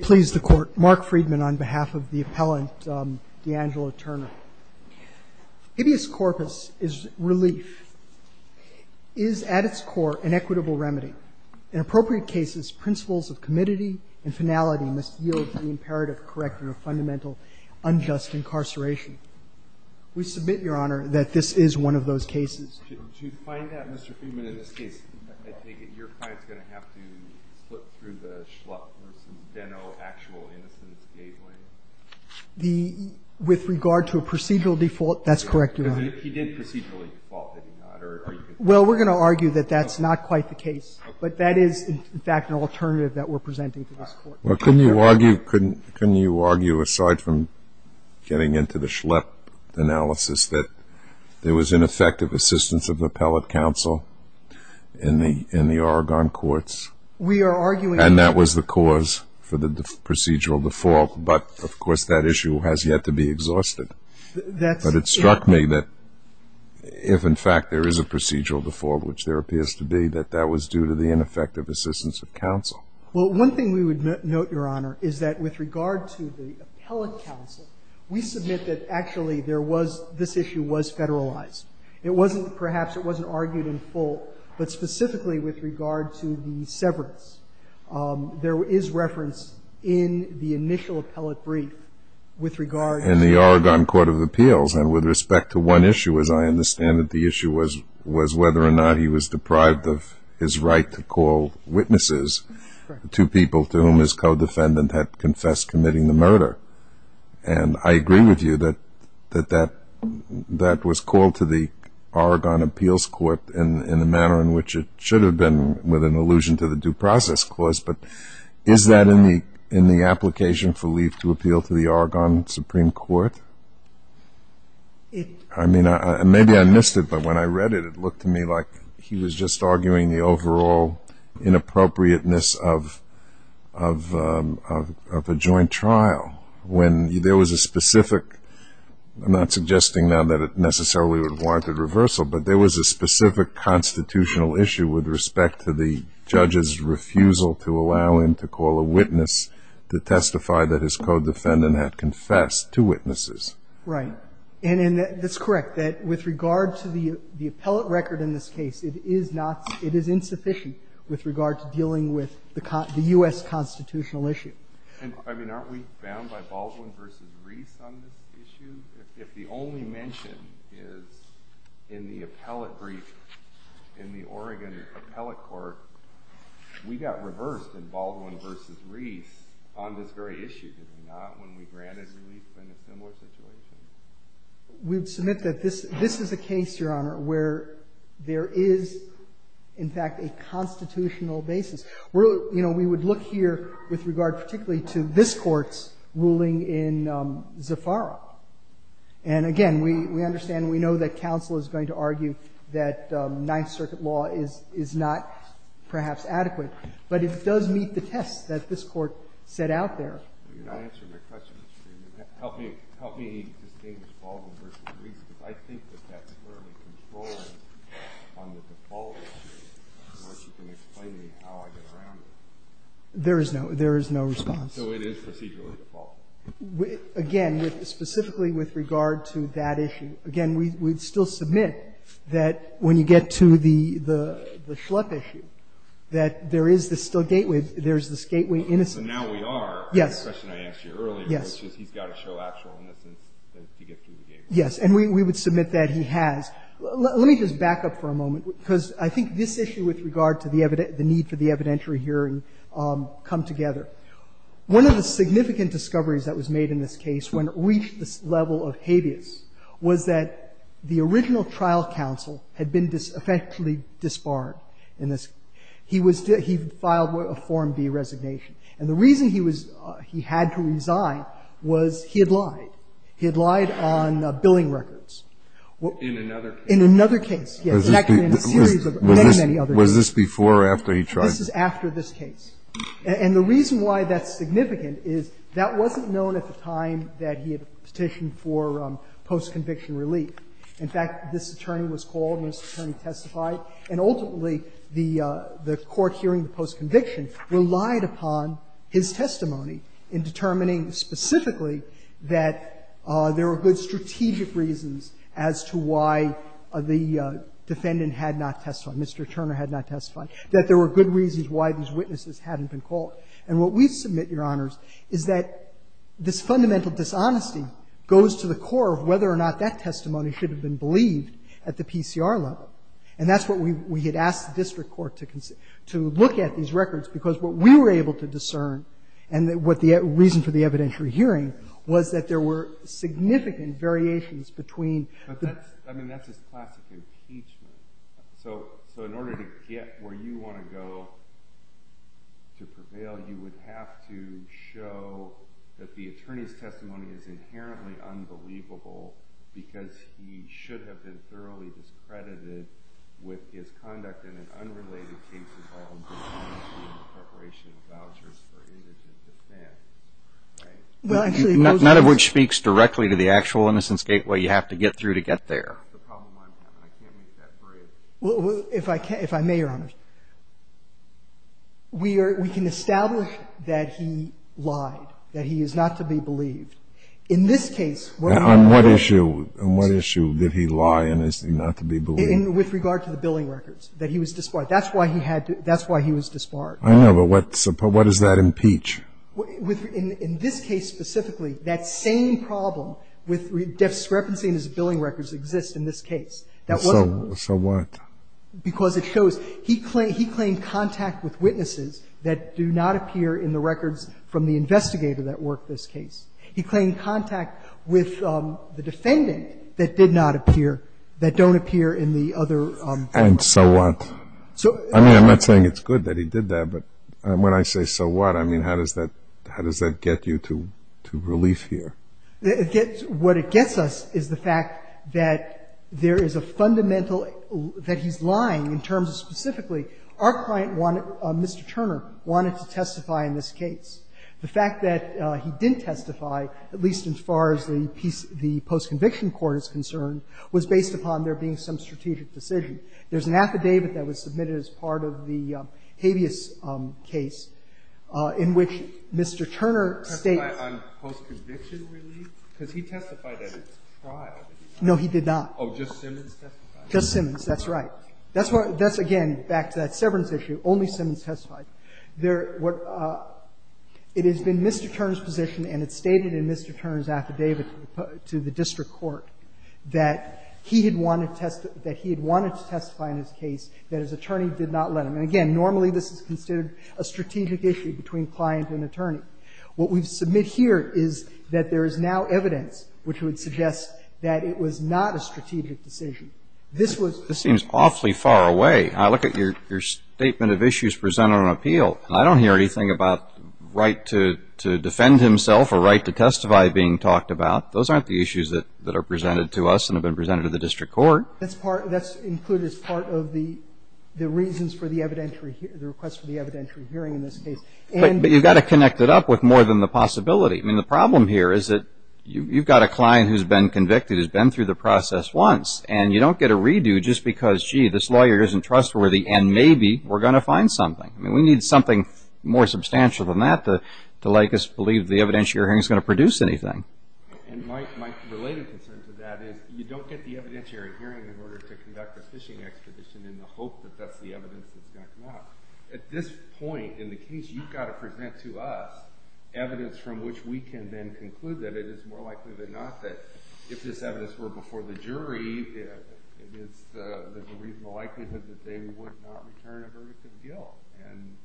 Please the court. Mark Friedman on behalf of the appellant, um, D'Angelo Turner. Habeas corpus is relief is at its core an equitable remedy. In appropriate cases, principles of committee and finality must yield the imperative corrector of fundamental unjust incarceration. We submit your honor that this is one of those cases to find that Mr Freeman in this case, I think your client's going to have to split through the Schlepp versus D'Angelo actual innocence gateway. The, with regard to a procedural default, that's correct, your honor. He did procedurally default, did he not? Well, we're going to argue that that's not quite the case, but that is in fact an alternative that we're presenting to this court. Well, couldn't you argue, couldn't you argue aside from getting into the Schlepp analysis that there was ineffective assistance of the appellate counsel in the, in the Oregon courts? We are arguing. And that was the cause for the procedural default, but of course that issue has yet to be exhausted. That's. But it struck me that if in fact there is a procedural default, which there appears to be, that that was due to the ineffective assistance of counsel. Well, one thing we would note, your honor, is that with regard to the appellate counsel, we submit that actually there was, this issue was federalized. It wasn't perhaps, it wasn't argued in full, but specifically with regard to the severance. There is reference in the initial appellate brief with regard. In the Oregon Court of Appeals, and with respect to one issue, as I understand it, the issue was, was whether or not he was deprived of his right to call witnesses. Correct. To people to whom his co-defendant had confessed committing the murder. And I was called to the Oregon Appeals Court in, in the manner in which it should have been with an allusion to the due process clause. But is that in the, in the application for leave to appeal to the Oregon Supreme Court? It. I mean, I, I, maybe I missed it, but when I read it, it looked to me like he was just arguing the overall inappropriateness of, of, of, of a joint trial. When there was a specific, I'm not suggesting now that it necessarily would have warranted reversal, but there was a specific constitutional issue with respect to the judge's refusal to allow him to call a witness to testify that his co-defendant had confessed to witnesses. Right. And, and that's correct, that with regard to the, the appellate record in this case, it is not, it is insufficient with regard to dealing with the, the U.S. constitutional issue. And, I mean, aren't we bound by Baldwin v. Reese on this issue? If, if the only mention is in the appellate brief in the Oregon Appellate Court, we got reversed in Baldwin v. Reese on this very issue, did we not, when we granted relief in a similar situation? We would submit that this, this is a case, Your Honor, where there is, in fact, a constitutional basis. We're, you know, we would look here with regard, particularly to this Court's ruling in Zaffaro. And, again, we, we understand, we know that counsel is going to argue that Ninth Circuit law is, is not perhaps adequate, but it does meet the test that this Court set out there. You're not answering my question. Help me, help me distinguish Baldwin v. Reese, because I think that that's clearly controlling on the default issue, unless you can explain to me how I get around it. There is no, there is no response. So it is procedurally default? Again, specifically with regard to that issue, again, we, we'd still submit that when you get to the, the, the Schlepp issue, that there is this still gateway, there's this gateway innocence. So now we are. Yes. The question I asked you earlier, which is he's got to show actual innocence to get through the case. Yes. And we, we would submit that he has. Let me just back up for a moment, because I think this issue with regard to the evident, the need for the evidentiary hearing come together. One of the significant discoveries that was made in this case when it reached this level of habeas was that the original trial counsel had been effectively disbarred in this. He was, he filed a Form V resignation. And the reason he was, he had to resign was he had lied. He had lied on billing records. In another case. In another case, yes. In fact, in a series of many, many other cases. Was this before or after he tried to? This is after this case. And the reason why that's significant is that wasn't known at the time that he had petitioned for post-conviction relief. In fact, this attorney was called and this attorney testified, and ultimately the, the court hearing post-conviction relied upon his testimony in determining specifically that there were good strategic reasons as to why the defendant had not testified, Mr. Turner had not testified, that there were good reasons why these witnesses hadn't been called. And what we submit, Your Honors, is that this fundamental dishonesty goes to the core of whether or not that testimony should have been believed at the PCR level. And that's what we, we had asked the district court to, to look at these records, because what we were able to discern and what the reason for the evidentiary hearing was that there were significant variations between the. I mean, that's just classic impeachment. So, so in order to get where you want to go, to prevail, you would have to show that the attorney's testimony is inherently unbelievable because he should have been thoroughly discredited with his conduct in an unrelated case involving the preparation of vouchers for indigent defense, right? None of which speaks directly to the actual innocence gateway. You have to get through to get there. Well, if I can, if I may, Your Honors, we are, we can establish that he lied, that he is not to be believed. In this case, what- On what issue, on what issue did he lie and is not to be believed? In, with regard to the billing records, that he was disbarred. That's why he had to, that's why he was disbarred. I know, but what, what does that impeach? With, in this case specifically, that same problem with discrepancy in his billing records exists in this case. So, so what? Because it shows, he claimed, he claimed contact with witnesses that do not appear in the records from the investigator that worked this case. He claimed contact with the defendant that did not appear, that don't appear in the other- And so what? So- I mean, I'm not saying it's good that he did that, but when I say so what, I mean, how does that, how does that get you to, to relief here? It gets, what it gets us is the fact that there is a fundamental, that he's lying in terms of specifically, our client wanted, Mr. Turner, wanted to testify in this case. The fact that he didn't testify, at least as far as the piece, the post-conviction court is concerned, was based upon there being some strategic decision. There's an affidavit that was submitted as part of the habeas case in which the Mr. Turner states- Testify on post-conviction relief? Because he testified at his trial. No, he did not. Oh, just Simmons testified. Just Simmons, that's right. That's what, that's again, back to that severance issue, only Simmons testified. There, what, it has been Mr. Turner's position and it's stated in Mr. Turner's affidavit to the district court that he had wanted to testify, that he had wanted to testify in his case, that his attorney did not let him. And again, normally this is considered a strategic issue between client and attorney. What we submit here is that there is now evidence which would suggest that it was not a strategic decision. This was- This seems awfully far away. I look at your statement of issues presented on appeal, and I don't hear anything about right to defend himself or right to testify being talked about. Those aren't the issues that are presented to us and have been presented to the district court. That's part, that's included as part of the reasons for the evidentiary, the request for the evidentiary hearing in this case. But you've got to connect it up with more than the possibility. I mean, the problem here is that you've got a client who's been convicted, who's been through the process once, and you don't get a redo just because, gee, this lawyer isn't trustworthy and maybe we're going to find something. I mean, we need something more substantial than that to make us believe the evidentiary hearing is going to produce anything. And my related concern to that is you don't get the evidentiary hearing in order to conduct a fishing expedition in the hope that that's the evidence that's going to come out. At this point in the case, you've got to present to us evidence from which we can then conclude that it is more likely than not that if this evidence were before the jury, it is the reasonable likelihood that they would not return a verdict of guilt. And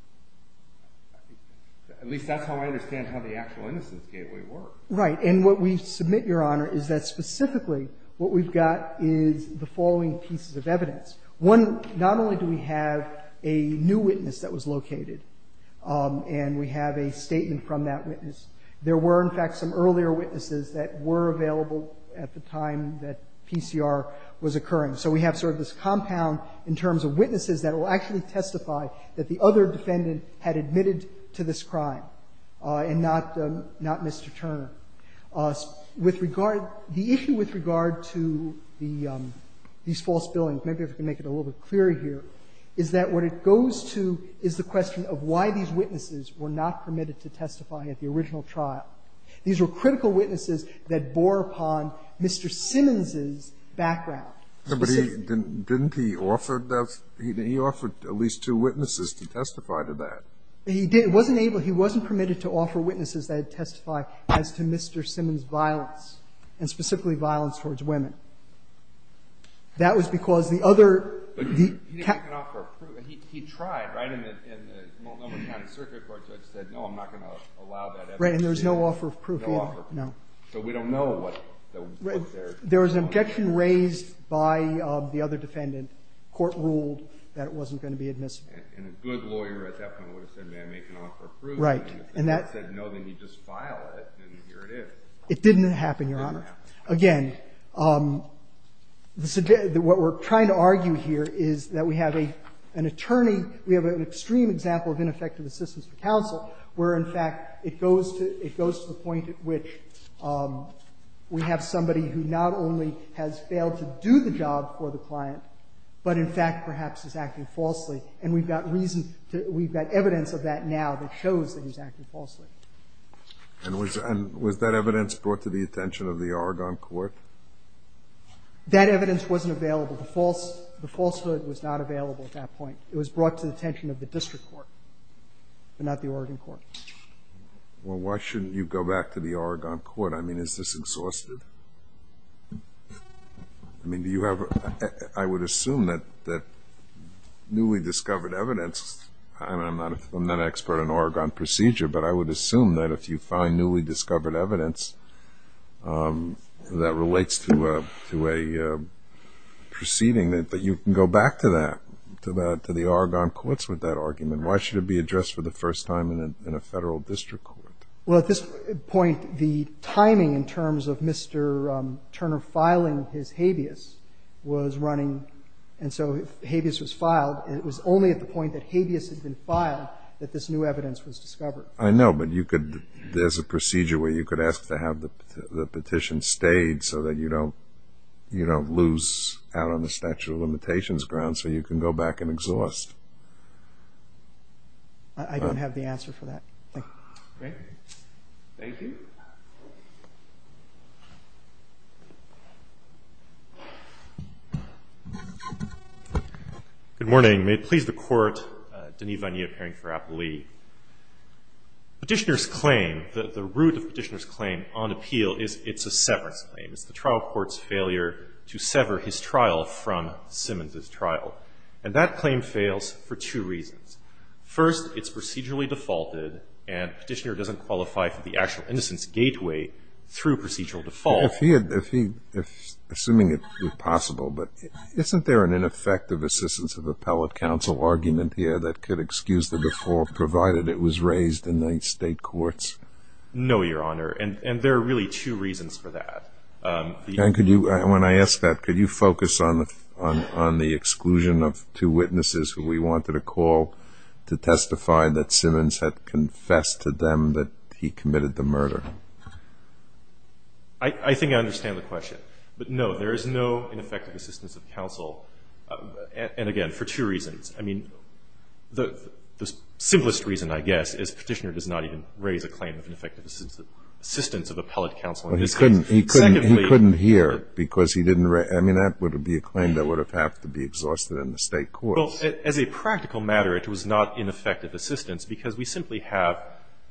I think that's how I understand how the actual innocence gateway works. Right. And what we submit, Your Honor, is that specifically what we've got is the following pieces of evidence. One, not only do we have a new witness that was located and we have a statement from that witness, there were, in fact, some earlier witnesses that were available at the time that PCR was occurring. So we have sort of this compound in terms of witnesses that will actually testify that the other defendant had admitted to this crime and not Mr. Turner. With regard to the issue with regard to the these false billings, maybe if we can make it a little bit clearer here, is that what it goes to is the question of why these witnesses were not permitted to testify at the original trial. These were critical witnesses that bore upon Mr. Simmons's background. But didn't he offer at least two witnesses to testify to that? He wasn't able, he wasn't permitted to offer witnesses that testify as to Mr. Simmons's violence, and specifically violence towards women. That was because the other, he tried, right, in the Multnomah County Circuit Court, so it said, no, I'm not going to allow that evidence. Right, and there's no offer of proof either. No. So we don't know what's there. There was an objection raised by the other defendant. The court ruled that it wasn't going to be admissible. And a good lawyer at that point would have said, may I make an offer of proof? Right. And if the defendant said no, then you just file it, and here it is. It didn't happen, Your Honor. It didn't happen. Again, what we're trying to argue here is that we have an attorney, we have an extreme example of ineffective assistance for counsel where, in fact, it goes to the point at which we have somebody who not only has failed to do the job for the client, but in fact perhaps is acting falsely. And we've got reason to – we've got evidence of that now that shows that he's acting falsely. And was that evidence brought to the attention of the Oregon court? That evidence wasn't available. The falsehood was not available at that point. It was brought to the attention of the district court, but not the Oregon court. Well, why shouldn't you go back to the Oregon court? I mean, is this exhaustive? I mean, do you have – I would assume that newly discovered evidence – I mean, I'm not an expert on Oregon procedure, but I would assume that if you find newly discovered evidence that relates to a proceeding, that you can go back to that, to the Oregon courts with that argument. Why should it be addressed for the first time in a federal district court? Well, at this point, the timing in terms of Mr. Turner filing his habeas was running – and so if habeas was filed, it was only at the point that habeas had been filed that this new evidence was discovered. I know, but you could – there's a procedure where you could ask to have the petition stayed so that you don't lose out on the statute of limitations ground, so you can go back and exhaust. I don't have the answer for that. Thank you. Thank you. Good morning. May it please the Court, Denis Vannier, appearing for Appellee. Petitioner's claim, the root of petitioner's claim on appeal is it's a severance claim. It's the trial court's failure to sever his trial from Simmons' trial. And that claim fails for two reasons. First, it's procedurally defaulted, and petitioner doesn't qualify for the actual innocence gateway through procedural default. If he – assuming it's possible, but isn't there an ineffective assistance of appellate counsel argument here that could excuse the default, provided it was raised in the state courts? No, Your Honor, and there are really two reasons for that. And could you – when I ask that, could you focus on the exclusion of two witnesses who we wanted to call to testify that Simmons had confessed to them that he committed the murder? I think I understand the question. But no, there is no ineffective assistance of counsel, and again, for two reasons. I mean, the simplest reason, I guess, is petitioner does not even raise a claim of ineffective assistance of appellate counsel. He couldn't hear because he didn't – I mean, that would be a claim that would have to be exhausted in the state courts. Well, as a practical matter, it was not ineffective assistance because we simply have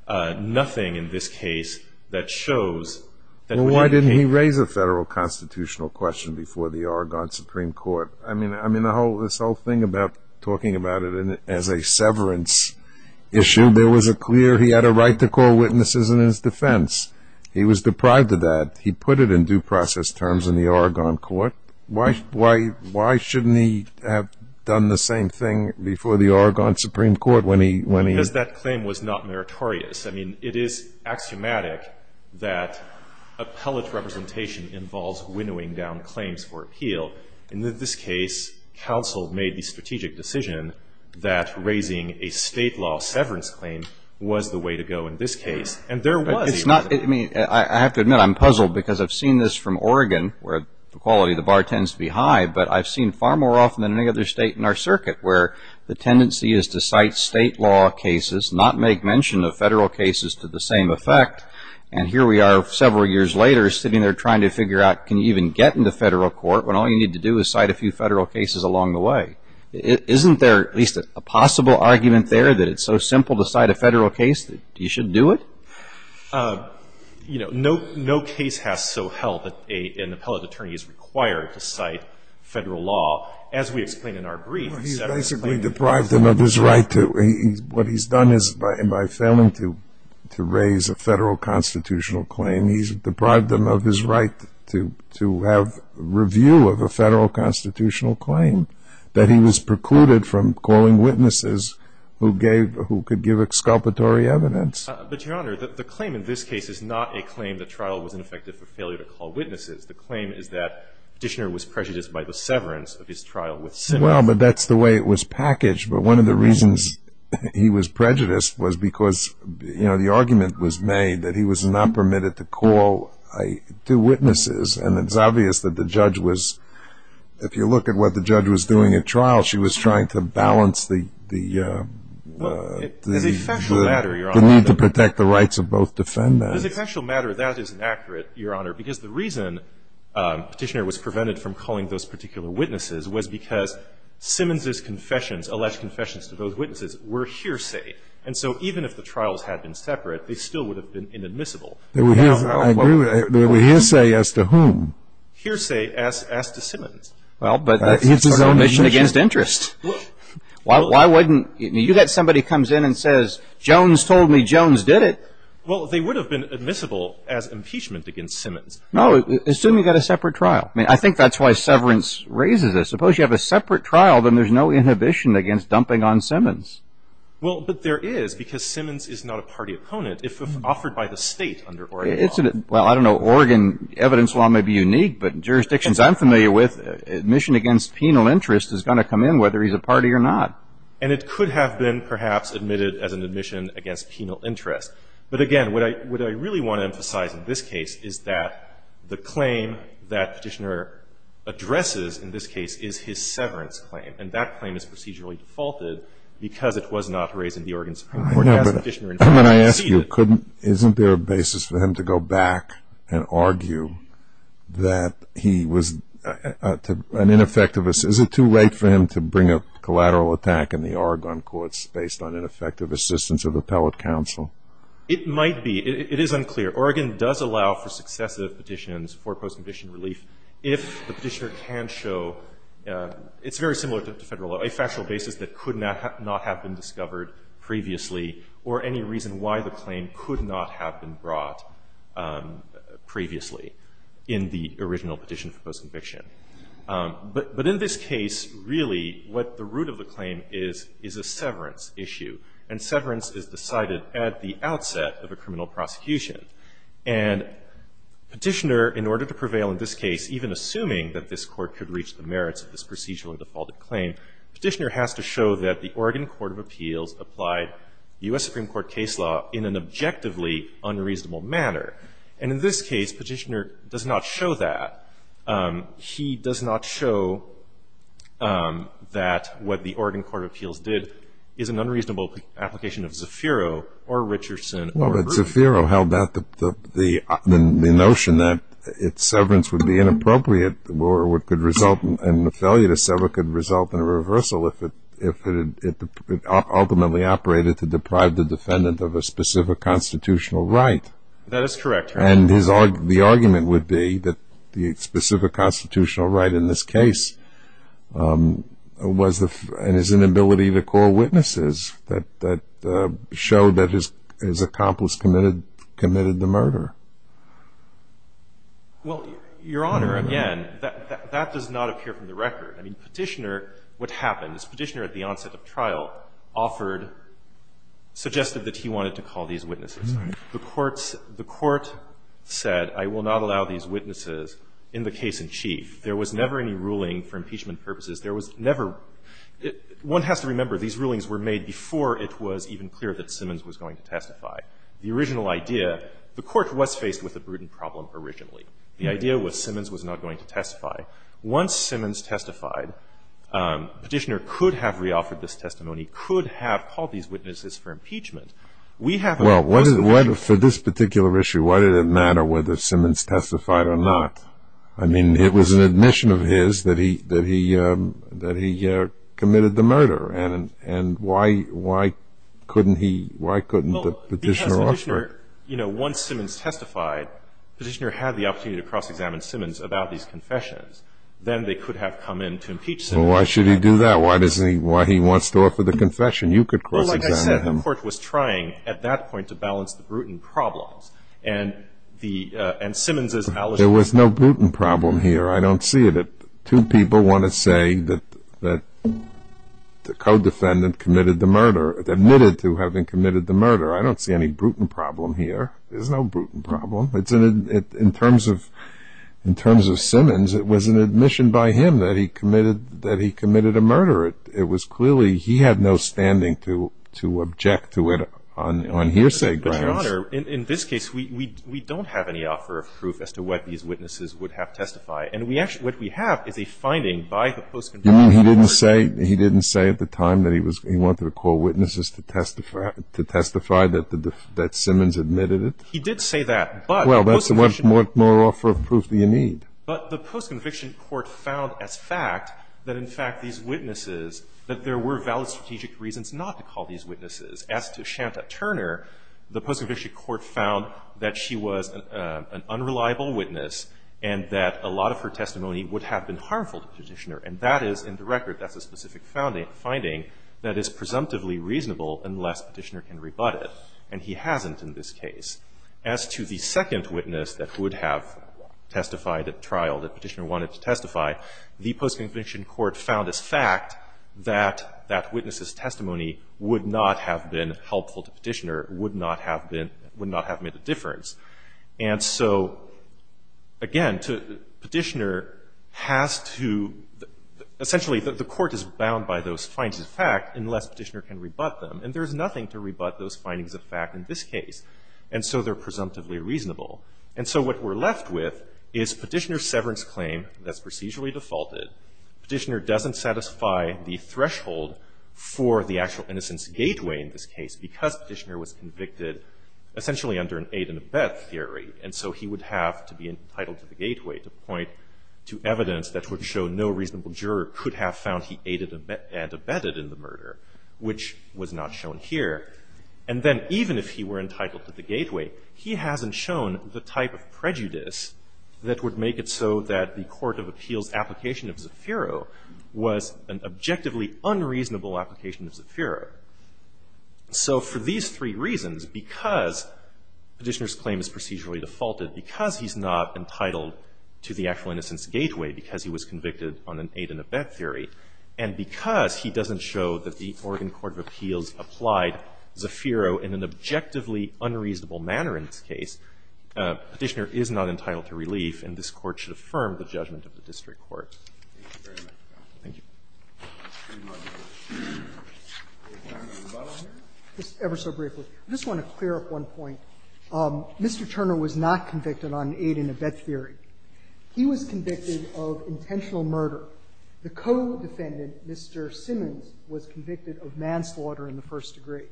nothing in this case that shows that – Well, why didn't he raise a federal constitutional question before the Argonne Supreme Court? I mean, this whole thing about talking about it as a severance issue, there was a clear – he had a right to call witnesses in his defense. He was deprived of that. He put it in due process terms in the Argonne Court. Why shouldn't he have done the same thing before the Argonne Supreme Court when he – Because that claim was not meritorious. I mean, it is axiomatic that appellate representation involves winnowing down claims for appeal. In this case, counsel made the strategic decision that raising a state law severance claim was the way to go in this case. And there was – I have to admit, I'm puzzled because I've seen this from Oregon where the quality of the bar tends to be high, but I've seen far more often than any other state in our circuit where the tendency is to cite state law cases, not make mention of federal cases to the same effect, and here we are several years later sitting there trying to figure out can you even get into federal court when all you need to do is cite a few federal cases along the way? Isn't there at least a possible argument there that it's so simple to cite a federal case that you should do it? You know, no case has so held that an appellate attorney is required to cite federal law. As we explain in our brief, severance claim is not a state law. Well, he's basically deprived him of his right to – what he's done is by failing to raise a federal constitutional claim, he's deprived him of his right to have review of a federal constitutional claim that he was precluded from calling witnesses who gave – who could give exculpatory evidence. But, Your Honor, the claim in this case is not a claim the trial was ineffective for failure to call witnesses. The claim is that Petitioner was prejudiced by the severance of his trial with Simmons. Well, but that's the way it was packaged, but one of the reasons he was prejudiced was because, you know, the argument was made that he was not permitted to call two witnesses, and it's obvious that the judge was – if you look at what the judge was doing at trial, she was trying to balance the – protect the rights of both defendants. As a factual matter, that isn't accurate, Your Honor, because the reason Petitioner was prevented from calling those particular witnesses was because Simmons' confessions, alleged confessions to those witnesses, were hearsay. And so even if the trials had been separate, they still would have been inadmissible. I agree with that. They were hearsay as to whom? Hearsay as to Simmons. Well, but that's sort of omission against interest. Why wouldn't – I mean, you've got somebody who comes in and says, Jones told me Jones did it. Well, they would have been admissible as impeachment against Simmons. No, assume you've got a separate trial. I mean, I think that's why severance raises this. Suppose you have a separate trial, then there's no inhibition against dumping on Simmons. Well, but there is, because Simmons is not a party opponent if offered by the State under Oregon law. Well, I don't know. Oregon evidence law may be unique, but jurisdictions I'm familiar with, admission against penal interest is going to come in whether he's a party or not. And it could have been perhaps admitted as an admission against penal interest. But, again, what I really want to emphasize in this case is that the claim that Petitioner addresses in this case is his severance claim. And that claim is procedurally defaulted because it was not raised in the Oregon Supreme Court. I know, but when I ask you, couldn't – isn't there a basis for him to go back and argue that he was an ineffective – is it too late for him to bring a collateral attack in the Oregon courts based on ineffective assistance of appellate counsel? It might be. It is unclear. Oregon does allow for successive petitions for post-condition relief if the Petitioner can show – it's very similar to federal law – a factual basis that could not have been discovered previously or any reason why the claim could not have been brought previously in the original petition for post-conviction. But in this case, really, what the root of the claim is, is a severance issue. And severance is decided at the outset of a criminal prosecution. And Petitioner, in order to prevail in this case, even assuming that this Court could reach the merits of this procedurally defaulted claim, Petitioner has to show that the Oregon Court of Appeals applied U.S. Supreme Court case law in an objectively unreasonable manner. And in this case, Petitioner does not show that. He does not show that what the Oregon Court of Appeals did is an unreasonable application of Zafiro or Richardson or Grisham. Well, but Zafiro, how about the notion that its severance would be inappropriate and the failure to sever could result in a reversal if it ultimately operated to deprive the defendant of a specific constitutional right? That is correct, Your Honor. And the argument would be that the specific constitutional right in this case was his inability to call witnesses that showed that his accomplice committed the murder. Well, Your Honor, again, that does not appear from the record. I mean, Petitioner, what happened is Petitioner at the onset of trial offered or suggested that he wanted to call these witnesses. The Court said, I will not allow these witnesses in the case in chief. There was never any ruling for impeachment purposes. There was never one has to remember these rulings were made before it was even clear that Simmons was going to testify. The original idea, the Court was faced with a prudent problem originally. The idea was Simmons was not going to testify. Once Simmons testified, Petitioner could have re-offered this testimony, could have called these witnesses for impeachment. We have not. Well, for this particular issue, why did it matter whether Simmons testified or not? I mean, it was an admission of his that he committed the murder. And why couldn't he, why couldn't the Petitioner offer it? Well, because Petitioner, you know, once Simmons testified, Petitioner had the opportunity to cross-examine Simmons about these confessions. Then they could have come in to impeach Simmons. Well, why should he do that? Why does he, why he wants to offer the confession? You could cross-examine him. Well, like I said, the Court was trying at that point to balance the prudent problems. And the, and Simmons's allegation. There was no prudent problem here. I don't see it. Two people want to say that the co-defendant committed the murder, admitted to having committed the murder. I don't see any prudent problem here. There's no prudent problem. In terms of Simmons, it was an admission by him that he committed a murder. It was clearly he had no standing to object to it on hearsay grounds. But, Your Honor, in this case, we don't have any offer of proof as to what these witnesses would have testified. And we actually, what we have is a finding by the post-conviction court. You mean he didn't say, he didn't say at the time that he was, he wanted to call witnesses to testify that Simmons admitted it? He did say that. But the post-conviction. Well, what more offer of proof do you need? But the post-conviction court found as fact that, in fact, these witnesses, that there were valid strategic reasons not to call these witnesses. As to Shanta Turner, the post-conviction court found that she was an unreliable witness and that a lot of her testimony would have been harmful to the Petitioner. And that is, in the record, that's a specific finding, that is presumptively reasonable unless Petitioner can rebut it. And he hasn't in this case. As to the second witness that would have testified at trial, that Petitioner wanted to testify, the post-conviction court found as fact that that witness's testimony would not have been helpful to Petitioner, would not have been, would not have made a difference. And so, again, Petitioner has to — essentially, the court is bound by those findings of fact unless Petitioner can rebut them. And there is nothing to rebut those findings of fact in this case. And so they're presumptively reasonable. And so what we're left with is Petitioner's severance claim that's procedurally defaulted. Petitioner doesn't satisfy the threshold for the actual innocence gateway in this case because Petitioner was convicted essentially under an aid and abet theory. And so he would have to be entitled to the gateway to point to evidence that would show no reasonable juror could have found he aided and abetted in the murder, which was not shown here. And then even if he were entitled to the gateway, he hasn't shown the type of prejudice that would make it so that the court of appeals application of Zaffiro was an objectively unreasonable application of Zaffiro. So for these three reasons, because Petitioner's claim is procedurally defaulted, because he's not entitled to the actual innocence gateway, because he was convicted on an aid and abet theory, and because he doesn't show that the Oregon court of appeals applied Zaffiro in an objectively unreasonable manner in this case, Petitioner is not entitled to relief, and this court should affirm the judgment of the district court. Thank you very much, counsel. Thank you. Any time for rebuttal here? Just ever so briefly. I just want to clear up one point. Mr. Turner was not convicted on aid and abet theory. He was convicted of intentional murder. The co-defendant, Mr. Simmons, was convicted of manslaughter in the first degree.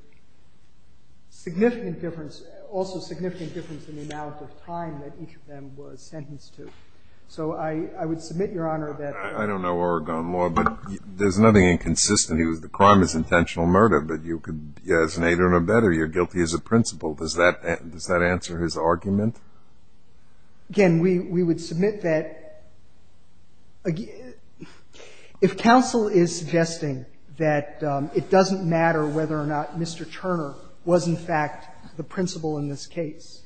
Significant difference, also significant difference in the amount of time that each of them was sentenced to. So I would submit, Your Honor, that the ---- I don't know Oregon law, but there's nothing inconsistent. The crime is intentional murder, but you could be as an aid and abet or you're guilty as a principal. Does that answer his argument? Again, we would submit that if counsel is suggesting that it doesn't matter whether or not Mr. Turner was, in fact, the principal in this case,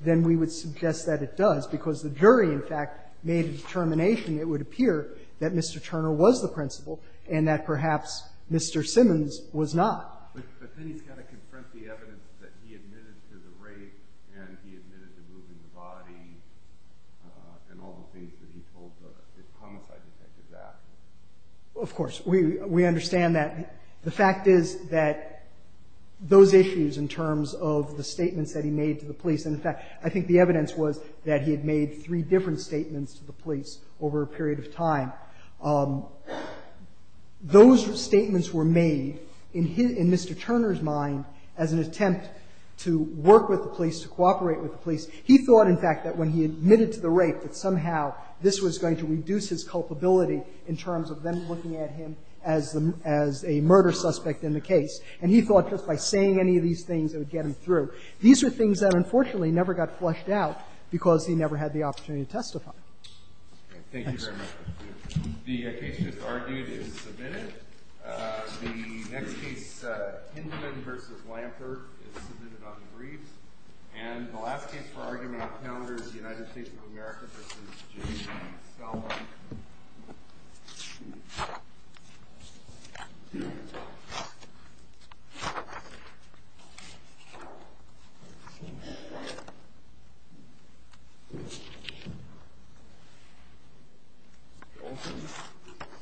then we would suggest that it does, because the jury, in fact, made a determination, it would appear, that Mr. Turner was the principal and that perhaps Mr. Simmons was not. But then he's got to confront the evidence that he admitted to the rape and he admitted to moving the body and all the things that he told the homicide detective that. Of course. We understand that. The fact is that those issues in terms of the statements that he made to the police and, in fact, I think the evidence was that he had made three different statements to the police over a period of time, those statements were made in his ---- in Mr. Turner's mind as an attempt to work with the police, to cooperate with the police. He thought, in fact, that when he admitted to the rape that somehow this was going to reduce his culpability in terms of them looking at him as the ---- as a murder suspect in the case. And he thought just by saying any of these things it would get him through. These are things that, unfortunately, never got flushed out because he never had the Thanks. Thank you very much. The case just argued is submitted. The next case, Hindman v. Lampert, is submitted on the briefs. And the last case for argument on the calendar is the United States of America v. James Salmon. Thank you.